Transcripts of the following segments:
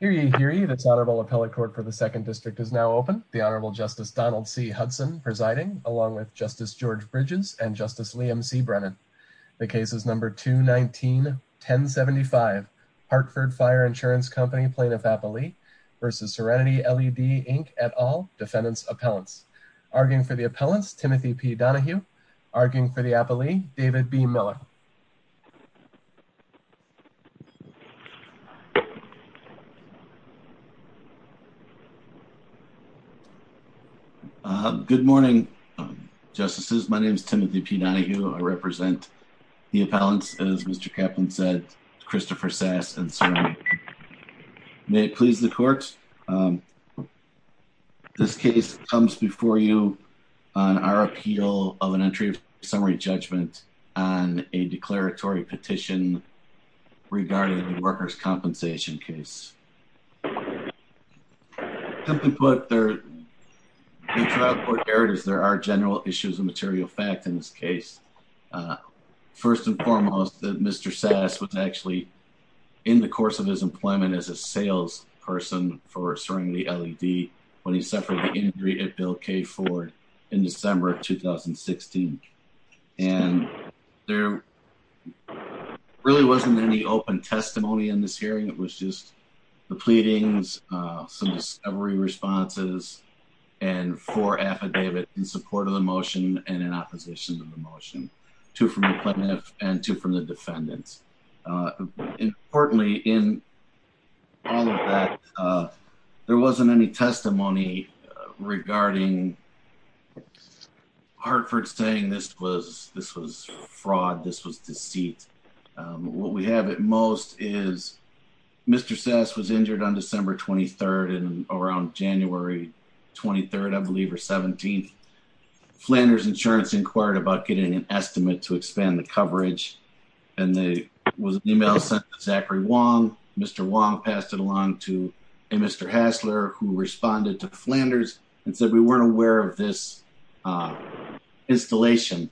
Hear ye, hear ye. This Honorable Appellate Court for the 2nd District is now open. The Honorable Justice Donald C. Hudson presiding, along with Justice George Bridges and Justice Liam C. Brennan. The case is No. 219-1075, Parkford Fire Insurance Company, Plaintiff-Appellee v. Serenity LED, Inc., et al., Defendants' Appellants. Arguing for the Appellants, Timothy P. Donohue. Arguing for the Appellee, David B. Miller. Good morning, Justices. My name is Timothy P. Donohue. I represent the Appellants, as Mr. Kaplan said, Christopher Sass and Serenity. May it please the Court, this case comes before you on our appeal of an entry of summary judgment on a declaratory petition regarding the workers' compensation case. Simply put, there are general issues of material fact in this case. First and foremost, Mr. Sass was actually in the course of his employment as a salesperson for Serenity LED when he suffered an injury at Bill K. Ford in December of 2016. There really wasn't any open testimony in this hearing. It was just the pleadings, some discovery responses, and four affidavits in support of the motion and in opposition to the motion. Two from the Plaintiff and two from the Defendants. Importantly, in all of that, there wasn't any testimony regarding Hartford saying this was fraud, this was deceit. What we have at most is Mr. Sass was injured on December 23rd and around January 23rd, I believe, or 17th. We were concerned about getting an estimate to expand the coverage and there was an email sent to Zachary Wong. Mr. Wong passed it along to a Mr. Hassler who responded to Flanders and said we weren't aware of this installation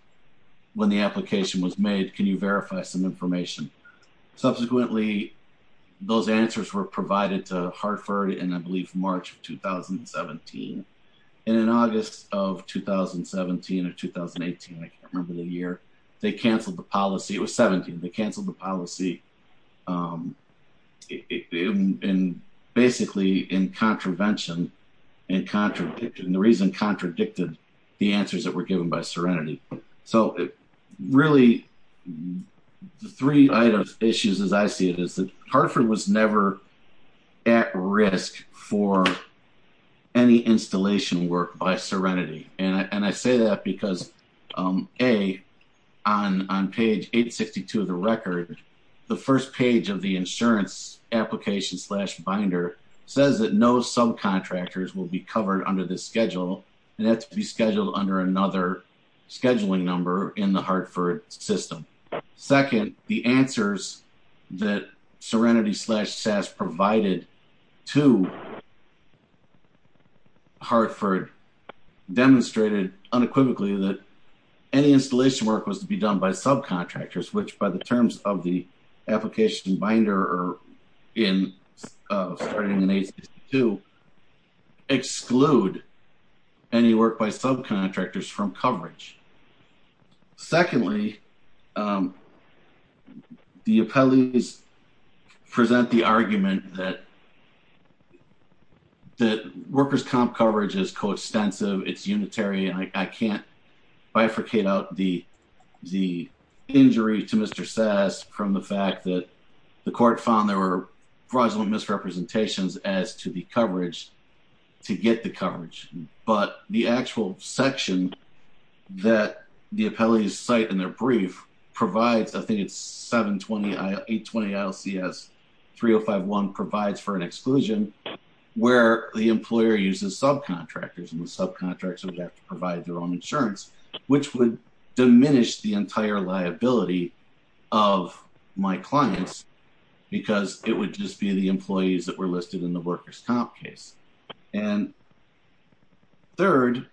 when the application was made. Can you verify some information? Subsequently, those answers were provided to Hartford in, I believe, March of 2017. In August of 2017 or 2018, I can't remember the year, they canceled the policy. It was 17. They canceled the policy basically in contravention and the reason contradicted the answers that were given by Serenity. Really, the three items issues as I see it is that Hartford was never at risk for any installation work by Serenity. I say that because A, on page 862 of the record, the first page of the insurance application slash binder says that no subcontractors will be covered under this schedule and that's to be scheduled under another scheduling number in the Hartford system. Second, the answers that Serenity slash SAS provided to Hartford demonstrated unequivocally that any installation work was to be done by subcontractors, which by the terms of the application binder starting in 862, exclude any work by subcontractors from coverage. Secondly, the appellees present the argument that workers' comp coverage is coextensive, it's unitary, and I can't bifurcate out the injury to Mr. SAS from the fact that the court found there were fraudulent misrepresentations as to the coverage to get the coverage. But the actual section that the appellees cite in their brief provides, I think it's 720-820-ILCS-3051 provides for an exclusion where the employer uses subcontractors and the subcontractors would have to provide their own insurance, which would diminish the entire liability of my clients because it would just be the employees that were listed in the workers' comp case. And third,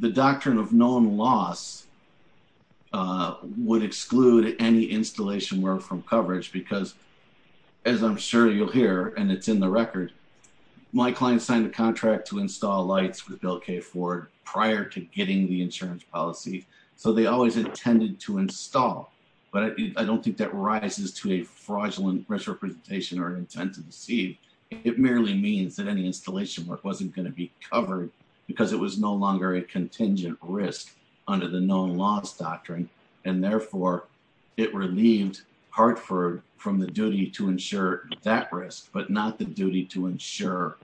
the doctrine of known loss would exclude any installation work from coverage because, as I'm sure you'll hear, and it's in the record, my client signed a contract to install lights with Bill K. Ford prior to getting the insurance policy. So they always intended to install, but I don't think that rises to a fraudulent misrepresentation or intent to deceive. It merely means that any installation work wasn't going to be covered because it was no longer a contingent risk under the known loss doctrine, and therefore it relieved Hartford from the duty to ensure that risk, but not the duty to ensure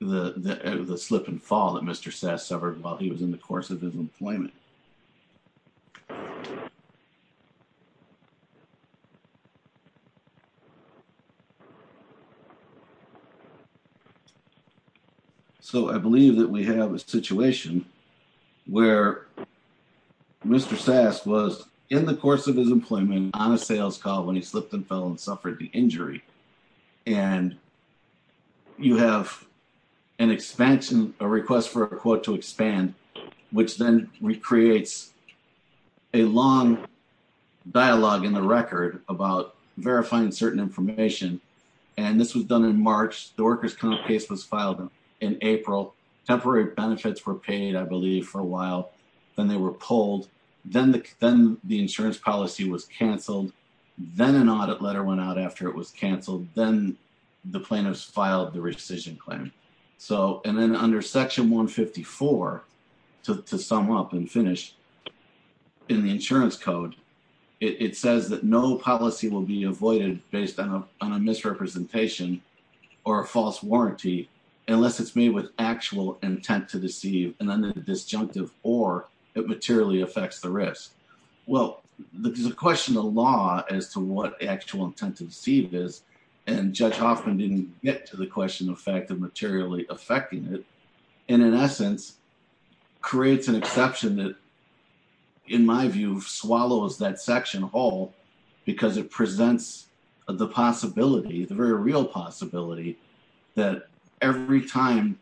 the slip and fall that Mr. SAS suffered while he was in the course of his employment. So I believe that we have a situation where Mr. SAS was in the course of his employment on a sales call when he slipped and fell and suffered the injury. And you have an expansion, a request for a quote to expand, which then recreates a long dialogue in the record about verifying certain information. And this was done in March. The workers' comp case was filed in April. Temporary benefits were paid, I believe, for a while. Then they were pulled. Then the insurance policy was canceled. Then an audit letter went out after it was canceled. Then the plaintiffs filed the rescission claim. And then under Section 154, to sum up and finish, in the insurance code, it says that no policy will be avoided based on a misrepresentation or a false warranty unless it's made with actual intent to deceive and then the disjunctive or it materially affects the risk. Well, there's a question of law as to what actual intent to deceive is. And Judge Hoffman didn't get to the question of fact of materially affecting it. And in essence, creates an exception that, in my view, swallows that section whole because it presents the possibility, the very real possibility, that every time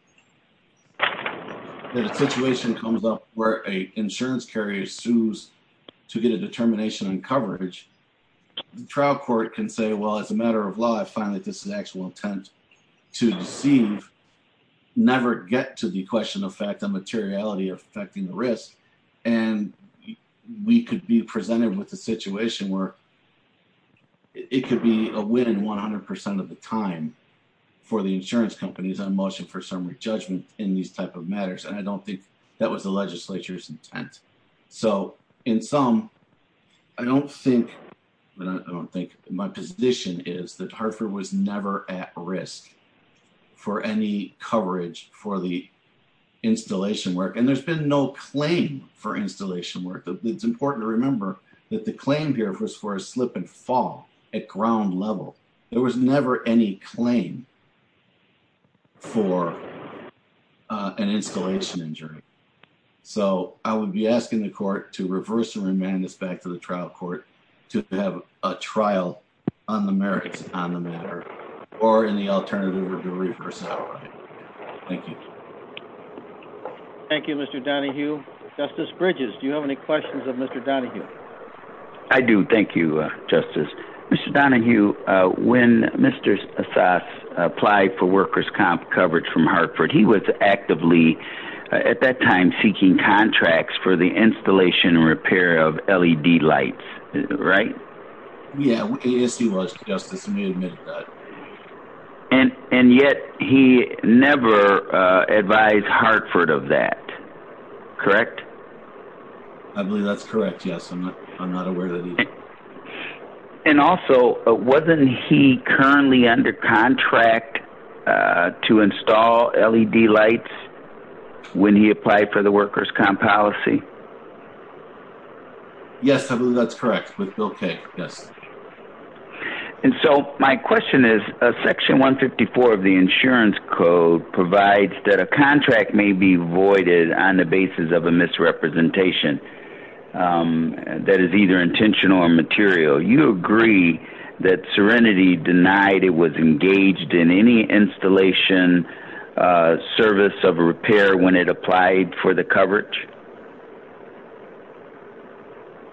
that a situation comes up where an insurance carrier sues to get a determination on coverage, the trial court can say, well, as a matter of law, I find that this is actual intent to deceive. Never get to the question of fact of materiality affecting the risk. And we could be presented with a situation where it could be a win 100% of the time for the insurance companies on motion for summary judgment in these type of matters. And I don't think that was the legislature's intent. So in sum, I don't think my position is that Hartford was never at risk for any coverage for the installation work. And there's been no claim for installation work. It's important to remember that the claim here was for a slip and fall at ground level. There was never any claim for an installation injury. So I would be asking the court to reverse and remand this back to the trial court to have a trial on the merits on the matter or in the alternative to reverse outright. Thank you. Thank you, Mr. Donahue. Justice Bridges, do you have any questions of Mr. Donahue? I do. Thank you, Justice. Mr. Donahue, when Mr. Assas applied for workers' comp coverage from Hartford, he was actively at that time seeking contracts for the installation and repair of LED lights, right? Yes, he was, Justice. Let me admit that. And yet he never advised Hartford of that, correct? I believe that's correct, yes. I'm not aware that he did. And also, wasn't he currently under contract to install LED lights when he applied for the workers' comp policy? Yes, I believe that's correct, with Bill Kay, yes. And so my question is, Section 154 of the Insurance Code provides that a contract may be voided on the basis of a misrepresentation that is either intentional or material. You agree that Serenity denied it was engaged in any installation service of a repair when it applied for the coverage?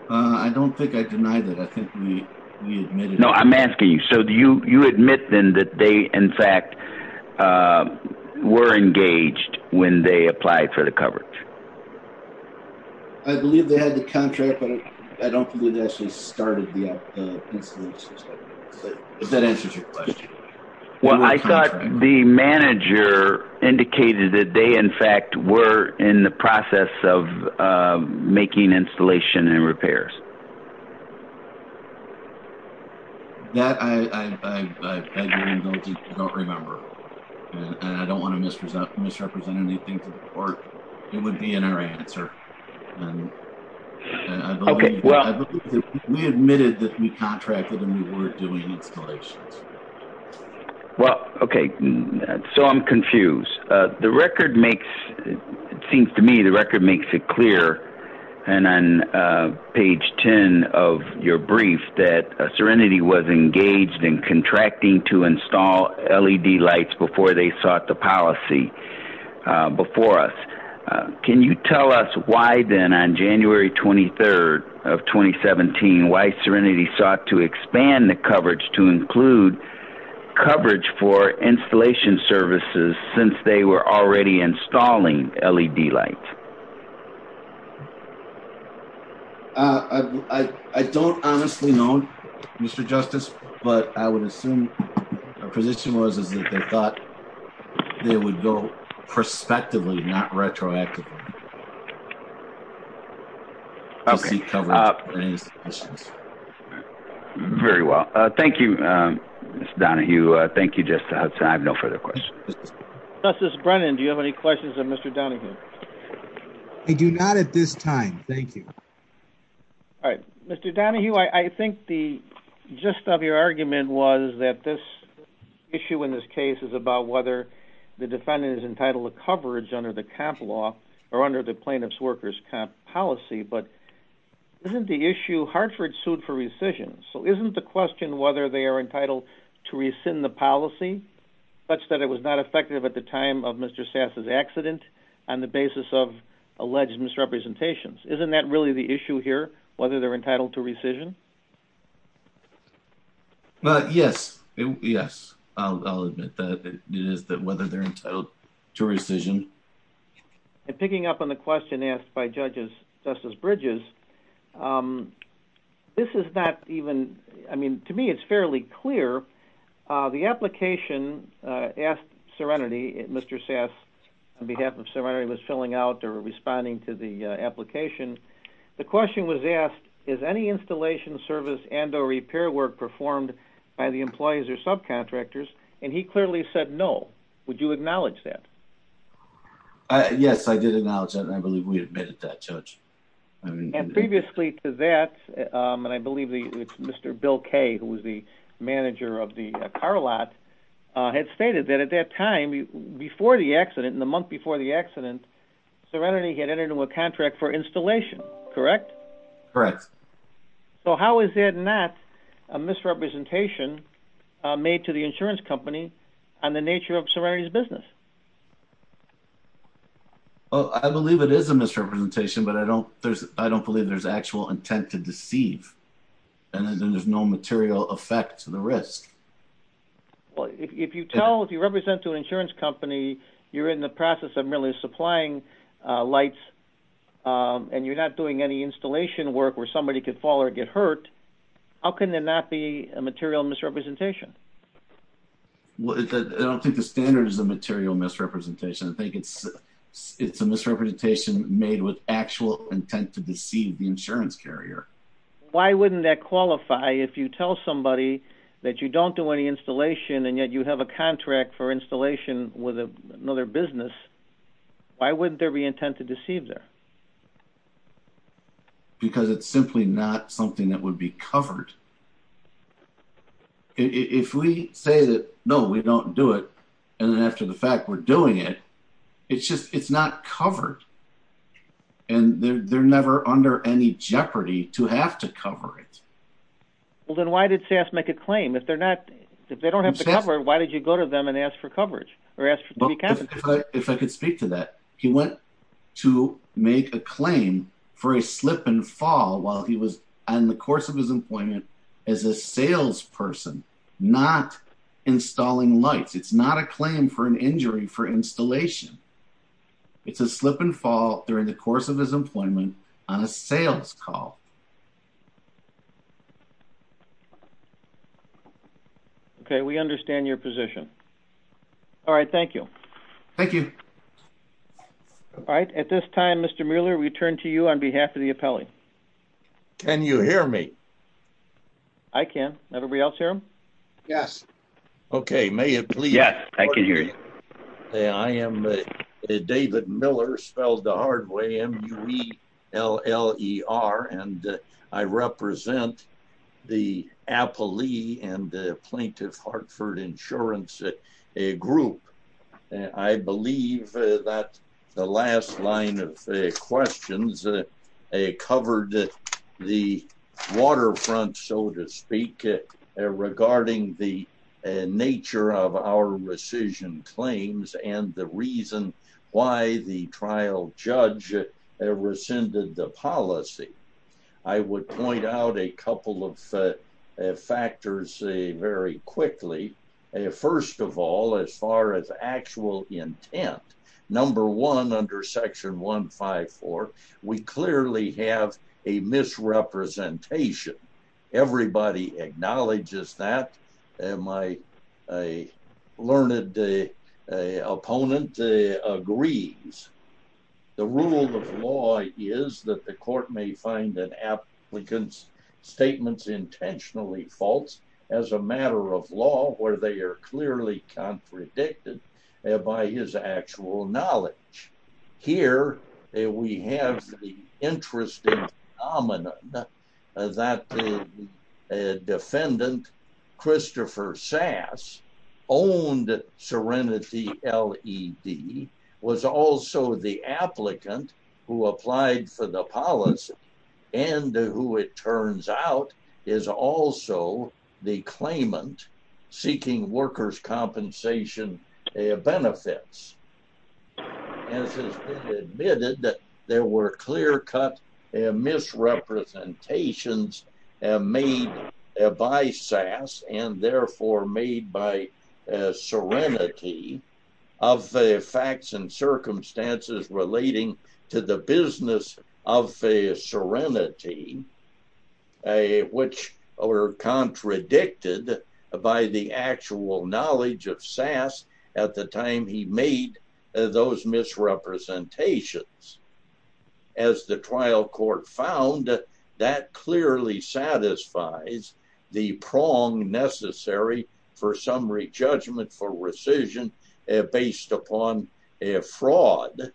I don't think I denied it. I think we admitted it. No, I'm asking you. So do you admit then that they, in fact, were engaged when they applied for the coverage? I believe they had the contract, but I don't believe they actually started the installation. If that answers your question. Well, I thought the manager indicated that they, in fact, were in the process of making installation and repairs. That I don't remember. And I don't want to misrepresent anything to the court. It would be in our answer. Okay, well. We admitted that we contracted and we weren't doing installations. Well, okay. So I'm confused. The record makes, it seems to me the record makes it clear, and on page 10 of your brief, that Serenity was engaged in contracting to install LED lights before they sought the policy before us. Can you tell us why then on January 23rd of 2017, why Serenity sought to expand the coverage to include coverage for installation services since they were already installing LED lights? I don't honestly know, Mr. Justice, but I would assume our position was that they thought they would go prospectively, not retroactively. Okay. Very well. Thank you, Mr. Donahue. Thank you, Justice Hudson. I have no further questions. Justice Brennan, do you have any questions of Mr. Donahue? I do not at this time. Thank you. All right. Mr. Donahue, I think the gist of your argument was that this issue in this case is about whether the defendant is entitled to coverage under the comp law or under the plaintiff's worker's comp policy. But isn't the issue, Hartford sued for rescission, so isn't the question whether they are entitled to rescind the policy such that it was not effective at the time of Mr. Sass's accident on the basis of alleged misrepresentations? Isn't that really the issue here, whether they're entitled to rescission? Yes. Yes, I'll admit that it is whether they're entitled to rescission. And picking up on the question asked by Justice Bridges, this is not even, I mean, to me it's fairly clear. The application asked Serenity, Mr. Sass, on behalf of Serenity, was filling out or responding to the application. The question was asked, is any installation service and or repair work performed by the employees or subcontractors? And he clearly said no. Would you acknowledge that? Yes, I did acknowledge that, and I believe we admitted that, Judge. And previously to that, and I believe Mr. Bill Kaye, who was the manager of the car lot, had stated that at that time, before the accident, in the month before the accident, Serenity had entered into a contract for installation, correct? Correct. So how is that not a misrepresentation made to the insurance company on the nature of Serenity's business? Well, I believe it is a misrepresentation, but I don't believe there's actual intent to deceive, and there's no material effect to the risk. Well, if you tell, if you represent to an insurance company, you're in the process of merely supplying lights, and you're not doing any installation work where somebody could fall or get hurt, how can that not be a material misrepresentation? Well, I don't think the standard is a material misrepresentation. I think it's a misrepresentation made with actual intent to deceive the insurance carrier. Why wouldn't that qualify if you tell somebody that you don't do any installation, and yet you have a contract for installation with another business? Why wouldn't there be intent to deceive there? Because it's simply not something that would be covered. If we say that, no, we don't do it, and then after the fact, we're doing it, it's just, it's not covered, and they're never under any jeopardy to have to cover it. Well, then why did SAS make a claim? If they're not, if they don't have to cover it, why did you go to them and ask for coverage, or ask to be counted? If I could speak to that, he went to make a claim for a slip and fall while he was on the course of his employment as a salesperson, not installing lights. It's not a claim for an injury for installation. It's a slip and fall during the course of his employment on a sales call. Okay, we understand your position. All right, thank you. Thank you. All right, at this time, Mr. Mueller, we turn to you on behalf of the appellee. Can you hear me? I can. Everybody else hear him? Yes. Okay, may it please? Yes, I can hear you. I am David Miller, spelled the hard way, M-U-E-L-L-E-R, and I represent the appellee and plaintiff Hartford Insurance Group. I believe that the last line of questions covered the waterfront, so to speak, regarding the nature of our rescission claims and the reason why the trial judge rescinded the policy. I would point out a couple of factors very quickly. First of all, as far as actual intent, number one under section 154, we clearly have a misrepresentation. Everybody acknowledges that. My learned opponent agrees. The rule of law is that the court may find an applicant's statements intentionally false as a matter of law where they are clearly contradicted by his actual knowledge. Here, we have the interesting phenomenon that the defendant, Christopher Sass, owned Serenity LED, was also the applicant who applied for the policy and who it turns out is also the claimant seeking workers' compensation benefits. It has been admitted that there were clear-cut misrepresentations made by Sass and therefore made by Serenity of facts and circumstances relating to the business of Serenity, which were contradicted by the actual knowledge of Sass at the time he made those misrepresentations. As the trial court found, that clearly satisfies the prong necessary for summary judgment for rescission based upon a fraud.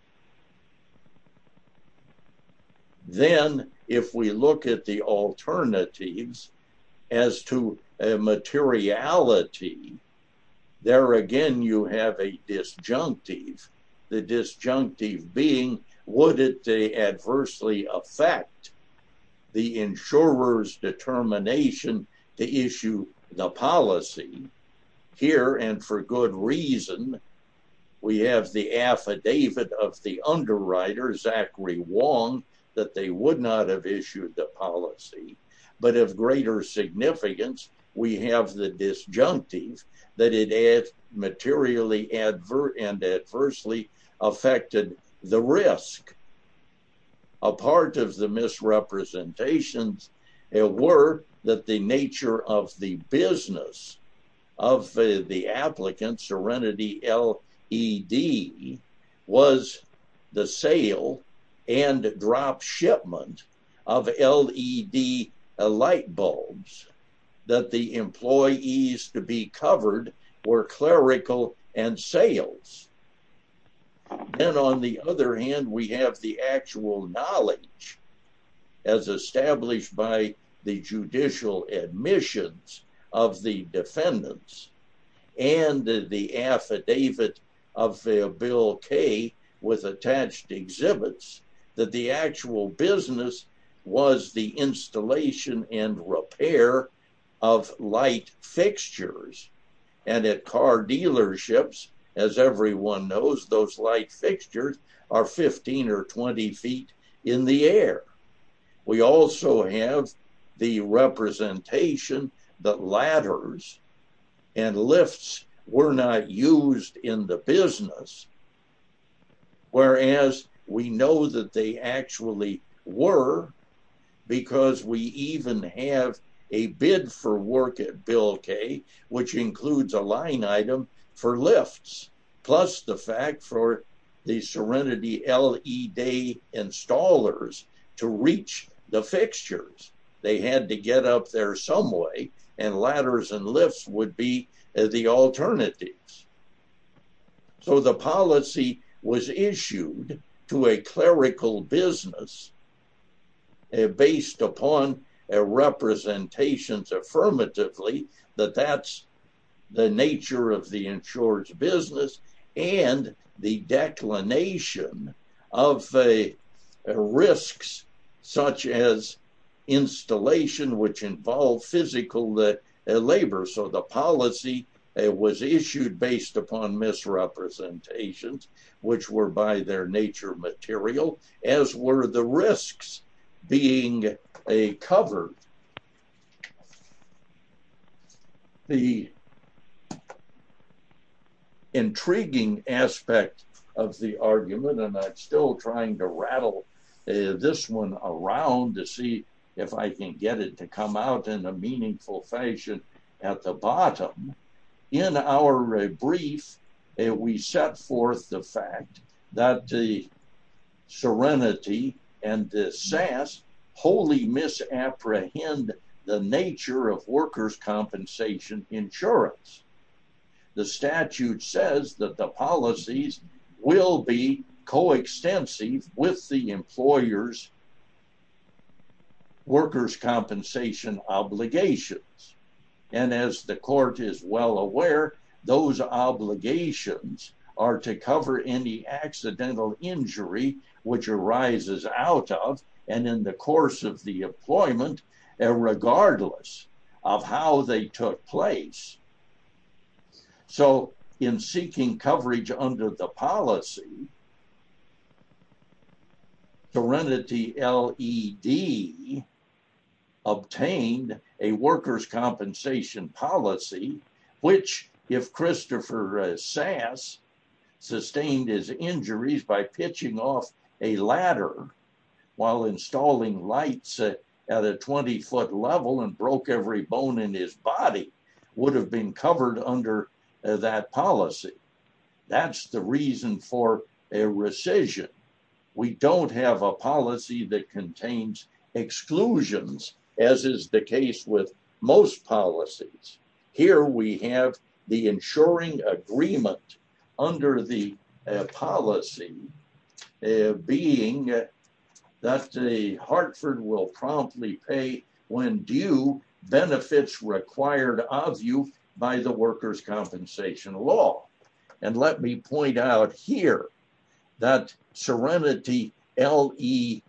Then, if we look at the alternatives as to materiality, there again you have a disjunctive. The disjunctive being would it adversely affect the insurer's determination to issue the policy? Here, and for good reason, we have the affidavit of the underwriter, Zachary Wong, that they would not have issued the policy. But of greater significance, we have the disjunctive that it materially and adversely affected the risk. A part of the misrepresentations were that the nature of the business of the applicant, Serenity LED, was the sale and drop shipment of LED light bulbs that the employees to be covered were clerical and sales. Then, on the other hand, we have the actual knowledge as established by the judicial admissions of the defendants and the affidavit of Bill Kay with attached exhibits that the actual business was the installation and repair of light fixtures. And at car dealerships, as everyone knows, those light fixtures are 15 or 20 feet in the air. We also have the representation that ladders and lifts were not used in the business. Whereas we know that they actually were because we even have a bid for work at Bill Kay, which includes a line item for lifts. Plus the fact for the Serenity LED installers to reach the fixtures. They had to get up there some way and ladders and lifts would be the alternatives. So, the policy was issued to a clerical business based upon representations affirmatively that that's the nature of the insured's business and the declination of risks such as installation, which involves physical labor. So, the policy was issued based upon misrepresentations, which were by their nature material, as were the risks being covered. The intriguing aspect of the argument, and I'm still trying to rattle this one around to see if I can get it to come out in a meaningful fashion at the bottom. In our brief, we set forth the fact that the Serenity and the SAS wholly misapprehend the nature of workers' compensation insurance. The statute says that the policies will be coextensive with the employers' workers' compensation obligations. And as the court is well aware, those obligations are to cover any accidental injury which arises out of and in the course of the employment, regardless of how they took place. So, in seeking coverage under the policy, Serenity LED obtained a workers' compensation policy, which if Christopher SAS sustained his injuries by pitching off a ladder while installing lights at a 20-foot level and broke every bone in his body, would have been covered under that policy. That's the reason for a rescission. We don't have a policy that contains exclusions, as is the case with most policies. Here we have the insuring agreement under the policy being that Hartford will promptly pay when due benefits required of you by the workers' compensation law. And let me point out here that Serenity LED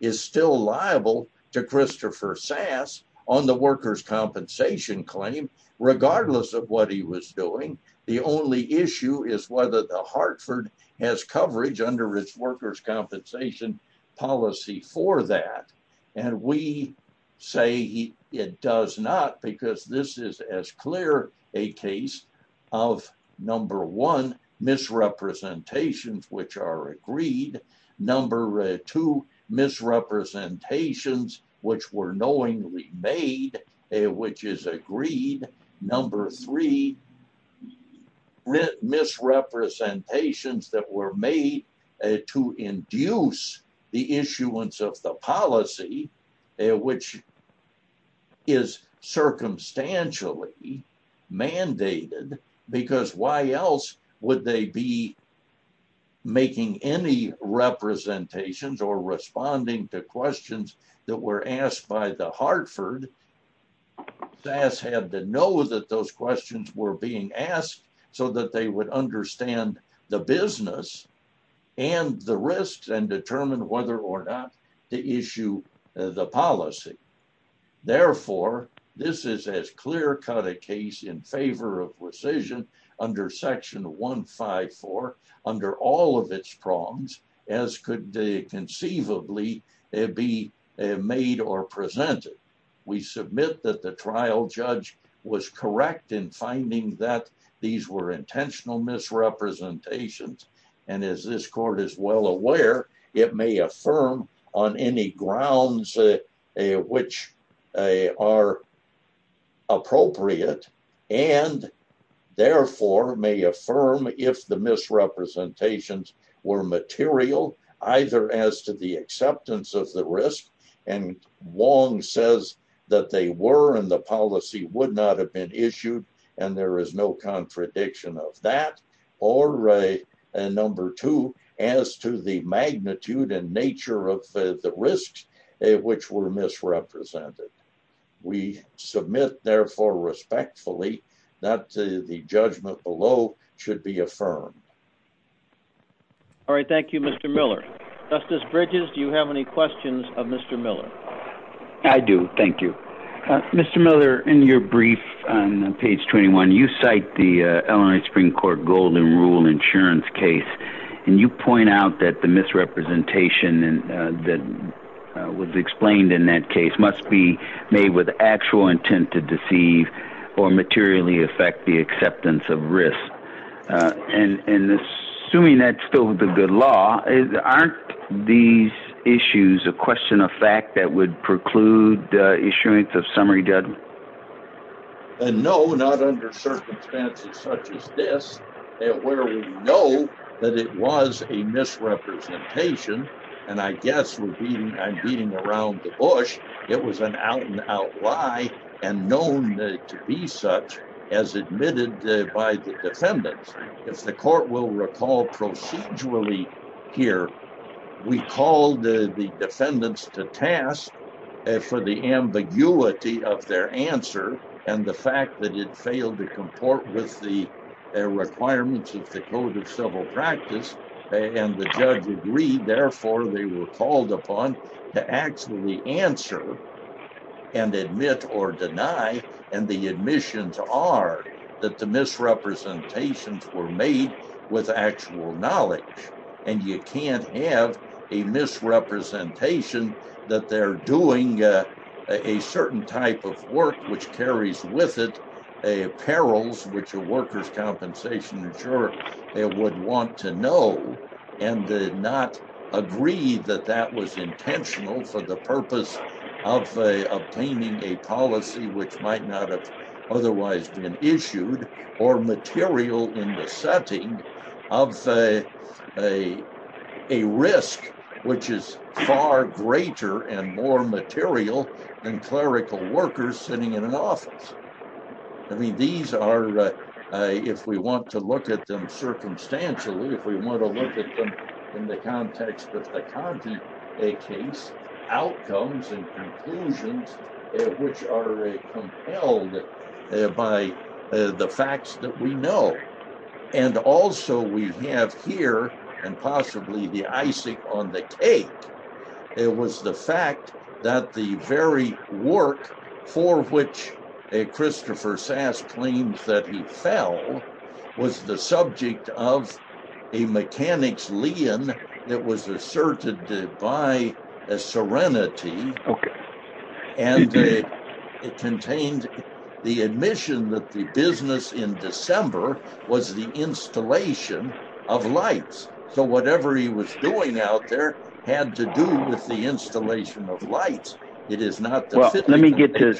is still liable to Christopher SAS on the workers' compensation claim, regardless of what he was doing. The only issue is whether Hartford has coverage under its workers' compensation policy for that. And we say it does not because this is as clear a case of number one, misrepresentations which are agreed. Number two, misrepresentations which were knowingly made, which is agreed. Number three, misrepresentations that were made to induce the issuance of the policy, which is circumstantially mandated, because why else would they be making any representations or responding to questions that were asked by the Hartford? SAS had to know that those questions were being asked so that they would understand the business and the risks and determine whether or not to issue the policy. Therefore, this is as clear-cut a case in favor of rescission under section 154 under all of its prongs as could conceivably be made or presented. We submit that the trial judge was correct in finding that these were intentional misrepresentations. And as this court is well aware, it may affirm on any grounds which are appropriate and therefore may affirm if the misrepresentations were material, either as to the acceptance of the risk. And Wong says that they were and the policy would not have been issued and there is no contradiction of that. Or number two, as to the magnitude and nature of the risks which were misrepresented. We submit, therefore, respectfully that the judgment below should be affirmed. All right. Thank you, Mr. Miller. Justice Bridges, do you have any questions of Mr. Miller? I do. Thank you. Mr. Miller, in your brief on page 21, you cite the Illinois Supreme Court gold and rule insurance case. And you point out that the misrepresentation that was explained in that case must be made with actual intent to deceive or materially affect the acceptance of risk. And assuming that's still the good law, aren't these issues a question of fact that would preclude the issuance of summary judgment? And no, not under circumstances such as this, where we know that it was a misrepresentation. And I guess we're beating around the bush. It was an out and out lie and known to be such as admitted by the defendants. If the court will recall procedurally here, we called the defendants to task for the ambiguity of their answer and the fact that it failed to comport with the requirements of the code of civil practice. And the judge agreed. Therefore, they were called upon to actually answer and admit or deny. And the admissions are that the misrepresentations were made with actual knowledge. And you can't have a misrepresentation that they're doing a certain type of work, which carries with it a perils, which a workers' compensation insurer would want to know. And did not agree that that was intentional for the purpose of obtaining a policy which might not have otherwise been issued or material in the setting of a risk, which is far greater and more material than clerical workers sitting in an office. I mean, these are, if we want to look at them circumstantially, if we want to look at them in the context of the content, a case outcomes and conclusions, which are compelled by the facts that we know. And also we have here and possibly the icing on the cake. It was the fact that the very work for which a Christopher Sass claims that he fell was the subject of a mechanics lien that was asserted by a serenity. And it contained the admission that the business in December was the installation of lights. So whatever he was doing out there had to do with the installation of lights. It is not. Well, let me get to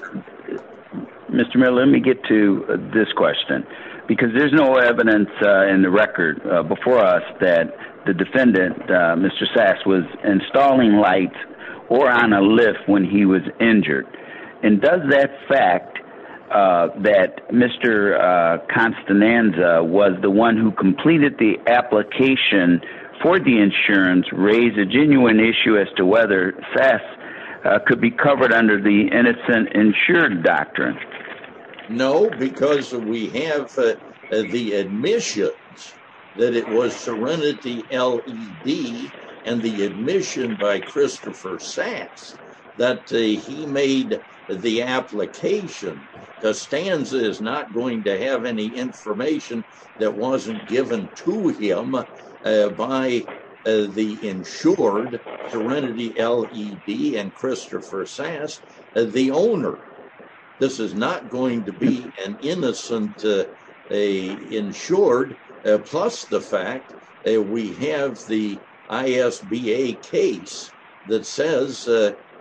Mr. Miller. Let me get to this question, because there's no evidence in the record before us that the defendant, Mr. Sass, was installing light or on a lift when he was injured. And does that fact that Mr. Constananza was the one who completed the application for the insurance raise a genuine issue as to whether Sass could be covered under the innocent insured doctrine? No, because we have the admissions that it was Serenity LED and the admission by Christopher Sass that he made the application. Constanza is not going to have any information that wasn't given to him by the insured Serenity LED and Christopher Sass, the owner. This is not going to be an innocent insured. Plus the fact that we have the ISBA case that says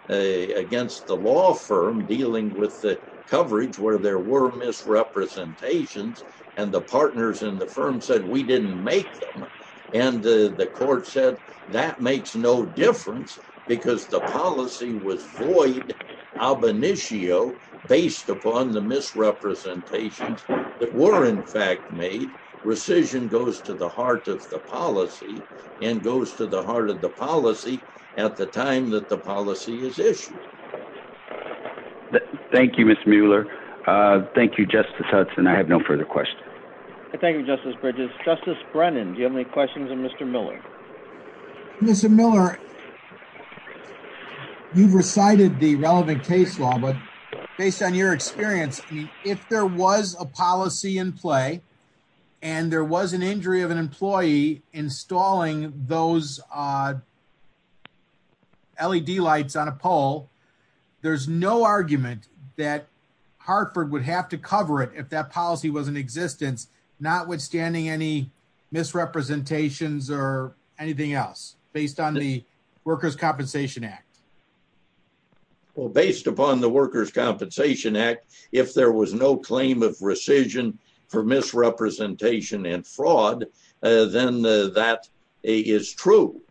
against the law firm dealing with the coverage where there were misrepresentations and the partners in the firm said we didn't make them. And the court said that makes no difference because the policy was void of an issue based upon the misrepresentations that were in fact made rescission goes to the heart of the policy and goes to the heart of the policy at the time that the policy is issued. Thank you, Mr. Mueller. Thank you, Justice Hudson. I have no further questions. Thank you, Justice Bridges. Justice Brennan. Do you have any questions of Mr. Miller? Mr. Miller, you've recited the relevant case law, but based on your experience, if there was a policy in play, and there was an injury of an employee installing those LED lights on a pole. There's no argument that Hartford would have to cover it if that policy was in existence, notwithstanding any misrepresentations or anything else based on the Workers' Compensation Act. Well, based upon the Workers' Compensation Act, if there was no claim of rescission for misrepresentation and fraud, then that is true.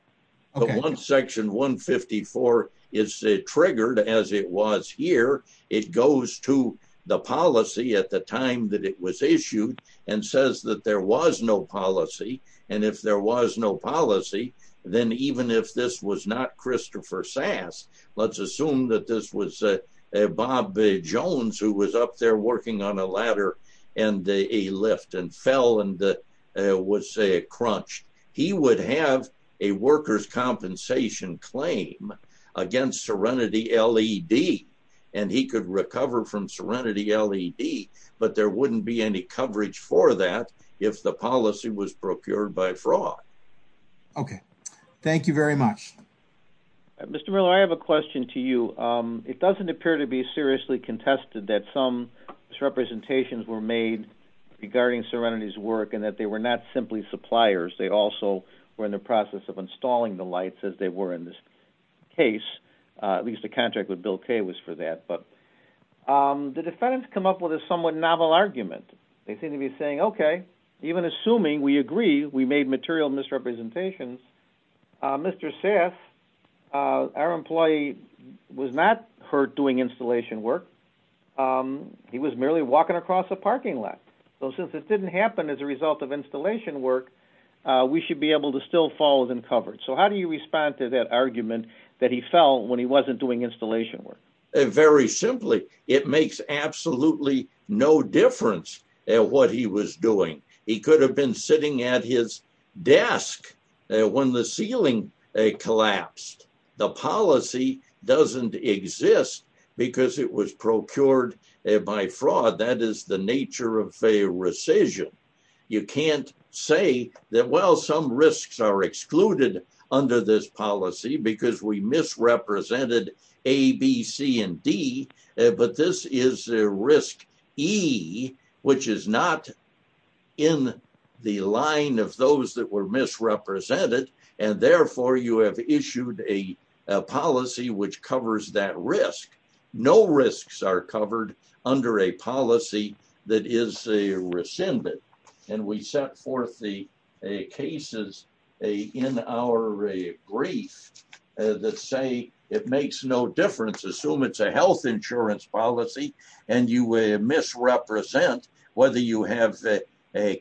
But once Section 154 is triggered, as it was here, it goes to the policy at the time that it was issued and says that there was no policy. And if there was no policy, then even if this was not Christopher Sass, let's assume that this was Bob Jones who was up there working on a ladder and a lift and fell and was crunched. He would have a workers' compensation claim against Serenity LED, and he could recover from Serenity LED, but there wouldn't be any coverage for that if the policy was procured by fraud. Okay. Thank you very much. Mr. Miller, I have a question to you. It doesn't appear to be seriously contested that some misrepresentations were made regarding Serenity's work and that they were not simply suppliers. They also were in the process of installing the lights, as they were in this case. At least the contract with Bill Kaye was for that. The defendants come up with a somewhat novel argument. They seem to be saying, okay, even assuming we agree we made material misrepresentations, Mr. Sass, our employee, was not hurt doing installation work. He was merely walking across a parking lot. So since it didn't happen as a result of installation work, we should be able to still follow them covered. So how do you respond to that argument that he fell when he wasn't doing installation work? Very simply, it makes absolutely no difference what he was doing. He could have been sitting at his desk when the ceiling collapsed. The policy doesn't exist because it was procured by fraud. That is the nature of a rescission. You can't say that, well, some risks are excluded under this policy because we misrepresented A, B, C, and D. But this is risk E, which is not in the line of those that were misrepresented, and therefore you have issued a policy which covers that risk. No risks are covered under a policy that is rescinded. And we set forth the cases in our brief that say it makes no difference. Assume it's a health insurance policy and you misrepresent whether you have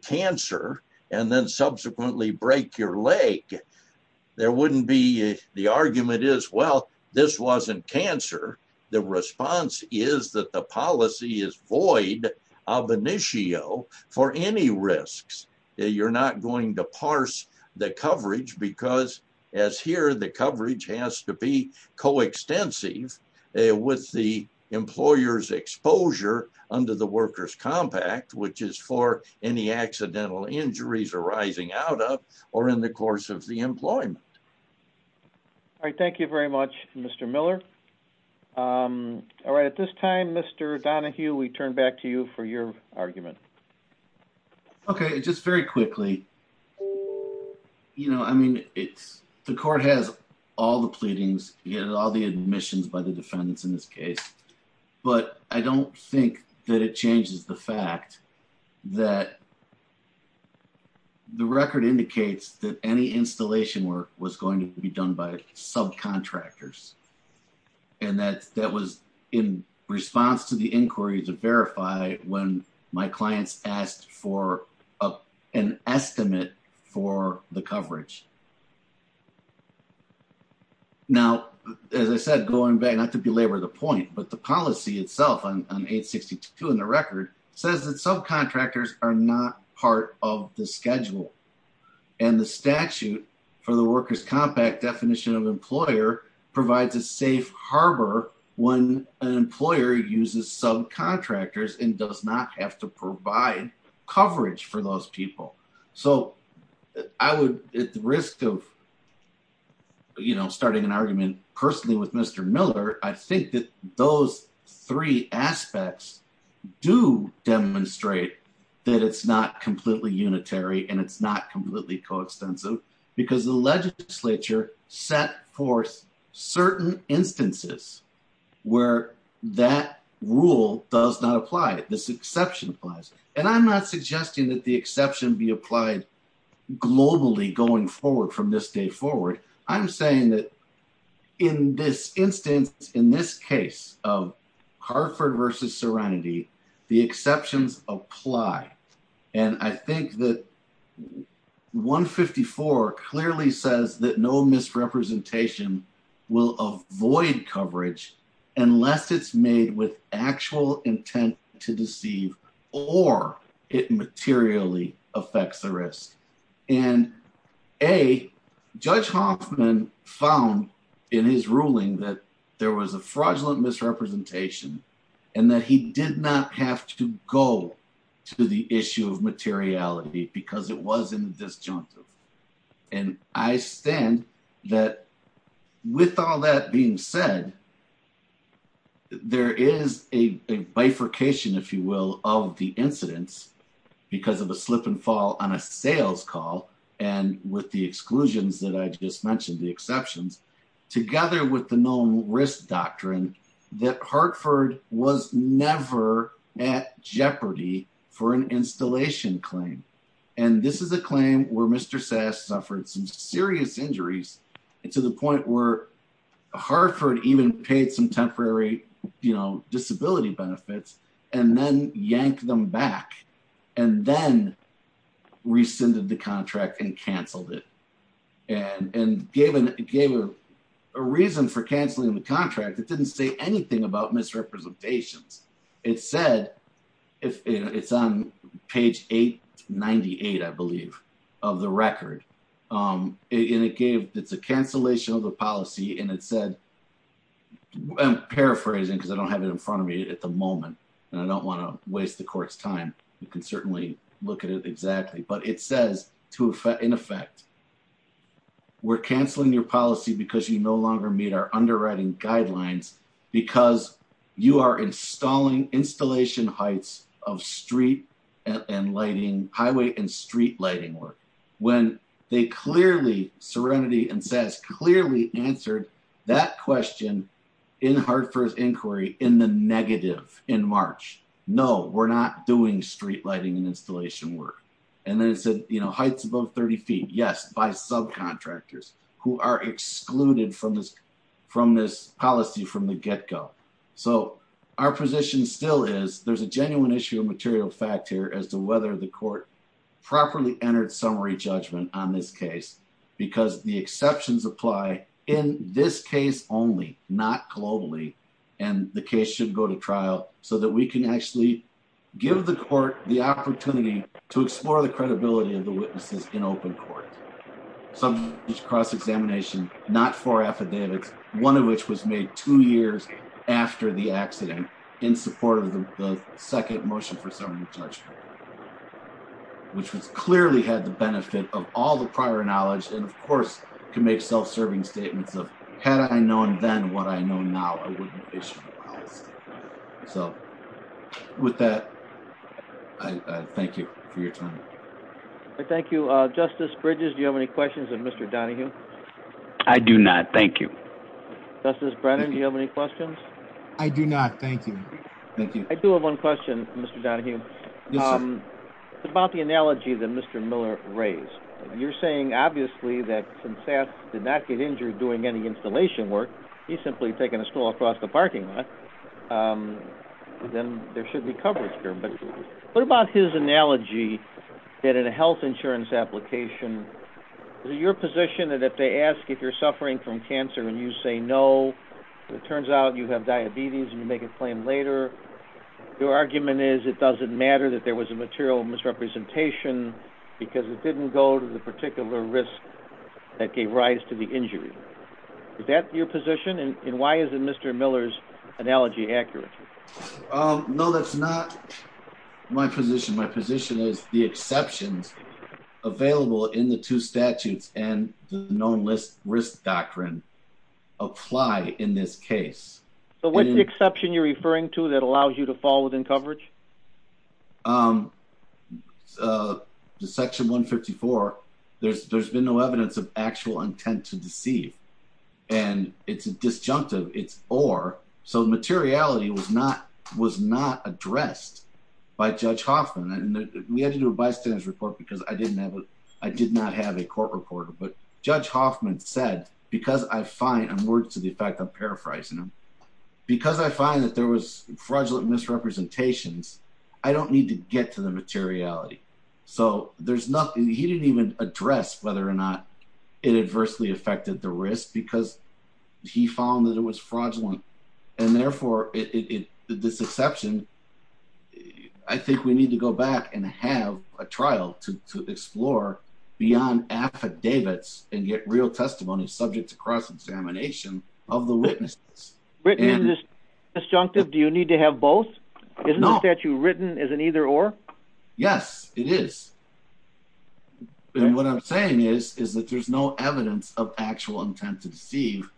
cancer and then subsequently break your leg. The argument is, well, this wasn't cancer. The response is that the policy is void of initio for any risks. You're not going to parse the coverage because as here the coverage has to be coextensive with the employer's exposure under the worker's compact, which is for any accidental injuries arising out of or in the course of the employment. All right. Thank you very much, Mr. Miller. All right. At this time, Mr. Donahue, we turn back to you for your argument. Okay. Just very quickly, you know, I mean, it's the court has all the pleadings, all the admissions by the defendants in this case, but I don't think that it changes the fact that the record indicates that any installation work was going to be done by subcontractors. And that that was in response to the inquiry to verify when my clients asked for an estimate for the coverage. Now, as I said, going back, not to belabor the point, but the policy itself on 862 in the record says that subcontractors are not part of the schedule and the statute for the workers compact definition of employer provides a safe harbor when an employer uses subcontractors and does not have to provide coverage for those people. So I would at the risk of starting an argument personally with Mr. Miller, I think that those three aspects do demonstrate that it's not completely unitary and it's not completely coextensive because the legislature set forth certain instances where that rule does not apply. And I'm not suggesting that the exception be applied globally going forward from this day forward. I'm saying that in this instance, in this case of Hartford versus serenity, the exceptions apply. And I think that 154 clearly says that no misrepresentation will avoid coverage unless it's made with actual intent to deceive or it materially affects the risk. And a judge Hoffman found in his ruling that there was a fraudulent misrepresentation and that he did not have to go to the issue of materiality because it wasn't disjunctive. And I stand that with all that being said, there is a bifurcation, if you will, of the incidents because of a slip and fall on a sales call. And with the exclusions that I just mentioned, the exceptions, together with the known risk doctrine that Hartford was never at jeopardy for an installation claim. And this is a claim where Mr. Sass suffered some serious injuries to the point where Hartford even paid some temporary disability benefits and then yanked them back and then rescinded the contract and canceled it. And gave a reason for canceling the contract that didn't say anything about misrepresentations. It said, it's on page 898, I believe, of the record. And it gave, it's a cancellation of the policy and it said, I'm paraphrasing because I don't have it in front of me at the moment and I don't want to waste the court's time. You can certainly look at it exactly, but it says, in effect, we're canceling your policy because you no longer meet our underwriting guidelines because you are installing installation heights of street and lighting, highway and street lighting work. When they clearly, Serenity and Sass, clearly answered that question in Hartford's inquiry in the negative in March. No, we're not doing street lighting and installation work. And then it said, heights above 30 feet. Yes, by subcontractors who are excluded from this policy from the get-go. So our position still is there's a genuine issue of material fact here as to whether the court properly entered summary judgment on this case. Because the exceptions apply in this case only, not globally, and the case should go to trial so that we can actually give the court the opportunity to explore the credibility of the witnesses in open court. Some cross-examination, not for affidavits, one of which was made two years after the accident in support of the second motion for summary judgment. Which clearly had the benefit of all the prior knowledge and, of course, can make self-serving statements of, had I known then what I know now, I wouldn't issue the policy. So, with that, I thank you for your time. Thank you. Justice Bridges, do you have any questions of Mr. Donahue? I do not, thank you. Justice Brennan, do you have any questions? I do not, thank you. I do have one question, Mr. Donahue. Yes, sir. About the analogy that Mr. Miller raised. You're saying, obviously, that since Sass did not get injured doing any installation work, he's simply taken a stall across the parking lot. Then there should be coverage there, but what about his analogy that in a health insurance application, is it your position that if they ask if you're suffering from cancer and you say no, it turns out you have diabetes and you make a claim later, your argument is it doesn't matter that there was a material misrepresentation because it didn't go to the particular risk that gave rise to the injury. Is that your position, and why isn't Mr. Miller's analogy accurate? No, that's not my position. My position is the exceptions available in the two statutes and the known risk doctrine apply in this case. So, what's the exception you're referring to that allows you to fall within coverage? Section 154, there's been no evidence of actual intent to deceive, and it's a disjunctive, it's or, so materiality was not addressed by Judge Hoffman. We had to do a bystanders report because I did not have a court reporter, but Judge Hoffman said, because I find, and words to the effect of paraphrasing him, because I find that there was fraudulent misrepresentations, I don't need to get to the materiality. So, there's nothing, he didn't even address whether or not it adversely affected the risk because he found that it was fraudulent. And therefore, this exception, I think we need to go back and have a trial to explore beyond affidavits and get real testimony subject to cross-examination of the witnesses. Written in this disjunctive, do you need to have both? Isn't the statute written as an either or? Yes, it is. And what I'm saying is, is that there's no evidence of actual intent to deceive.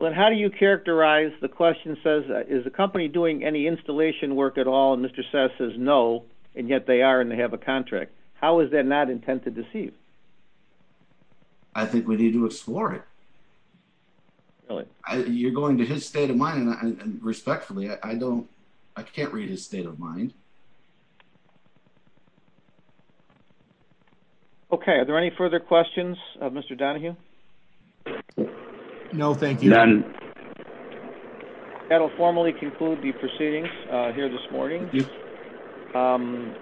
But how do you characterize, the question says, is the company doing any installation work at all? And Mr. Seth says no, and yet they are and they have a contract. How is that not intent to deceive? I think we need to explore it. You're going to his state of mind, and respectfully, I don't, I can't read his state of mind. Okay, are there any further questions of Mr. Donahue? No, thank you. That'll formally conclude the proceedings here this morning. On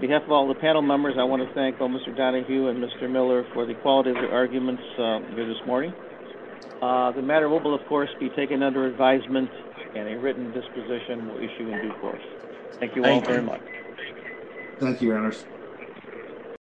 behalf of all the panel members, I want to thank Mr. Donahue and Mr. Miller for the quality of their arguments here this morning. The matter will, of course, be taken under advisement and a written disposition will issue in due course. Thank you all very much. Thank you, Your Honors.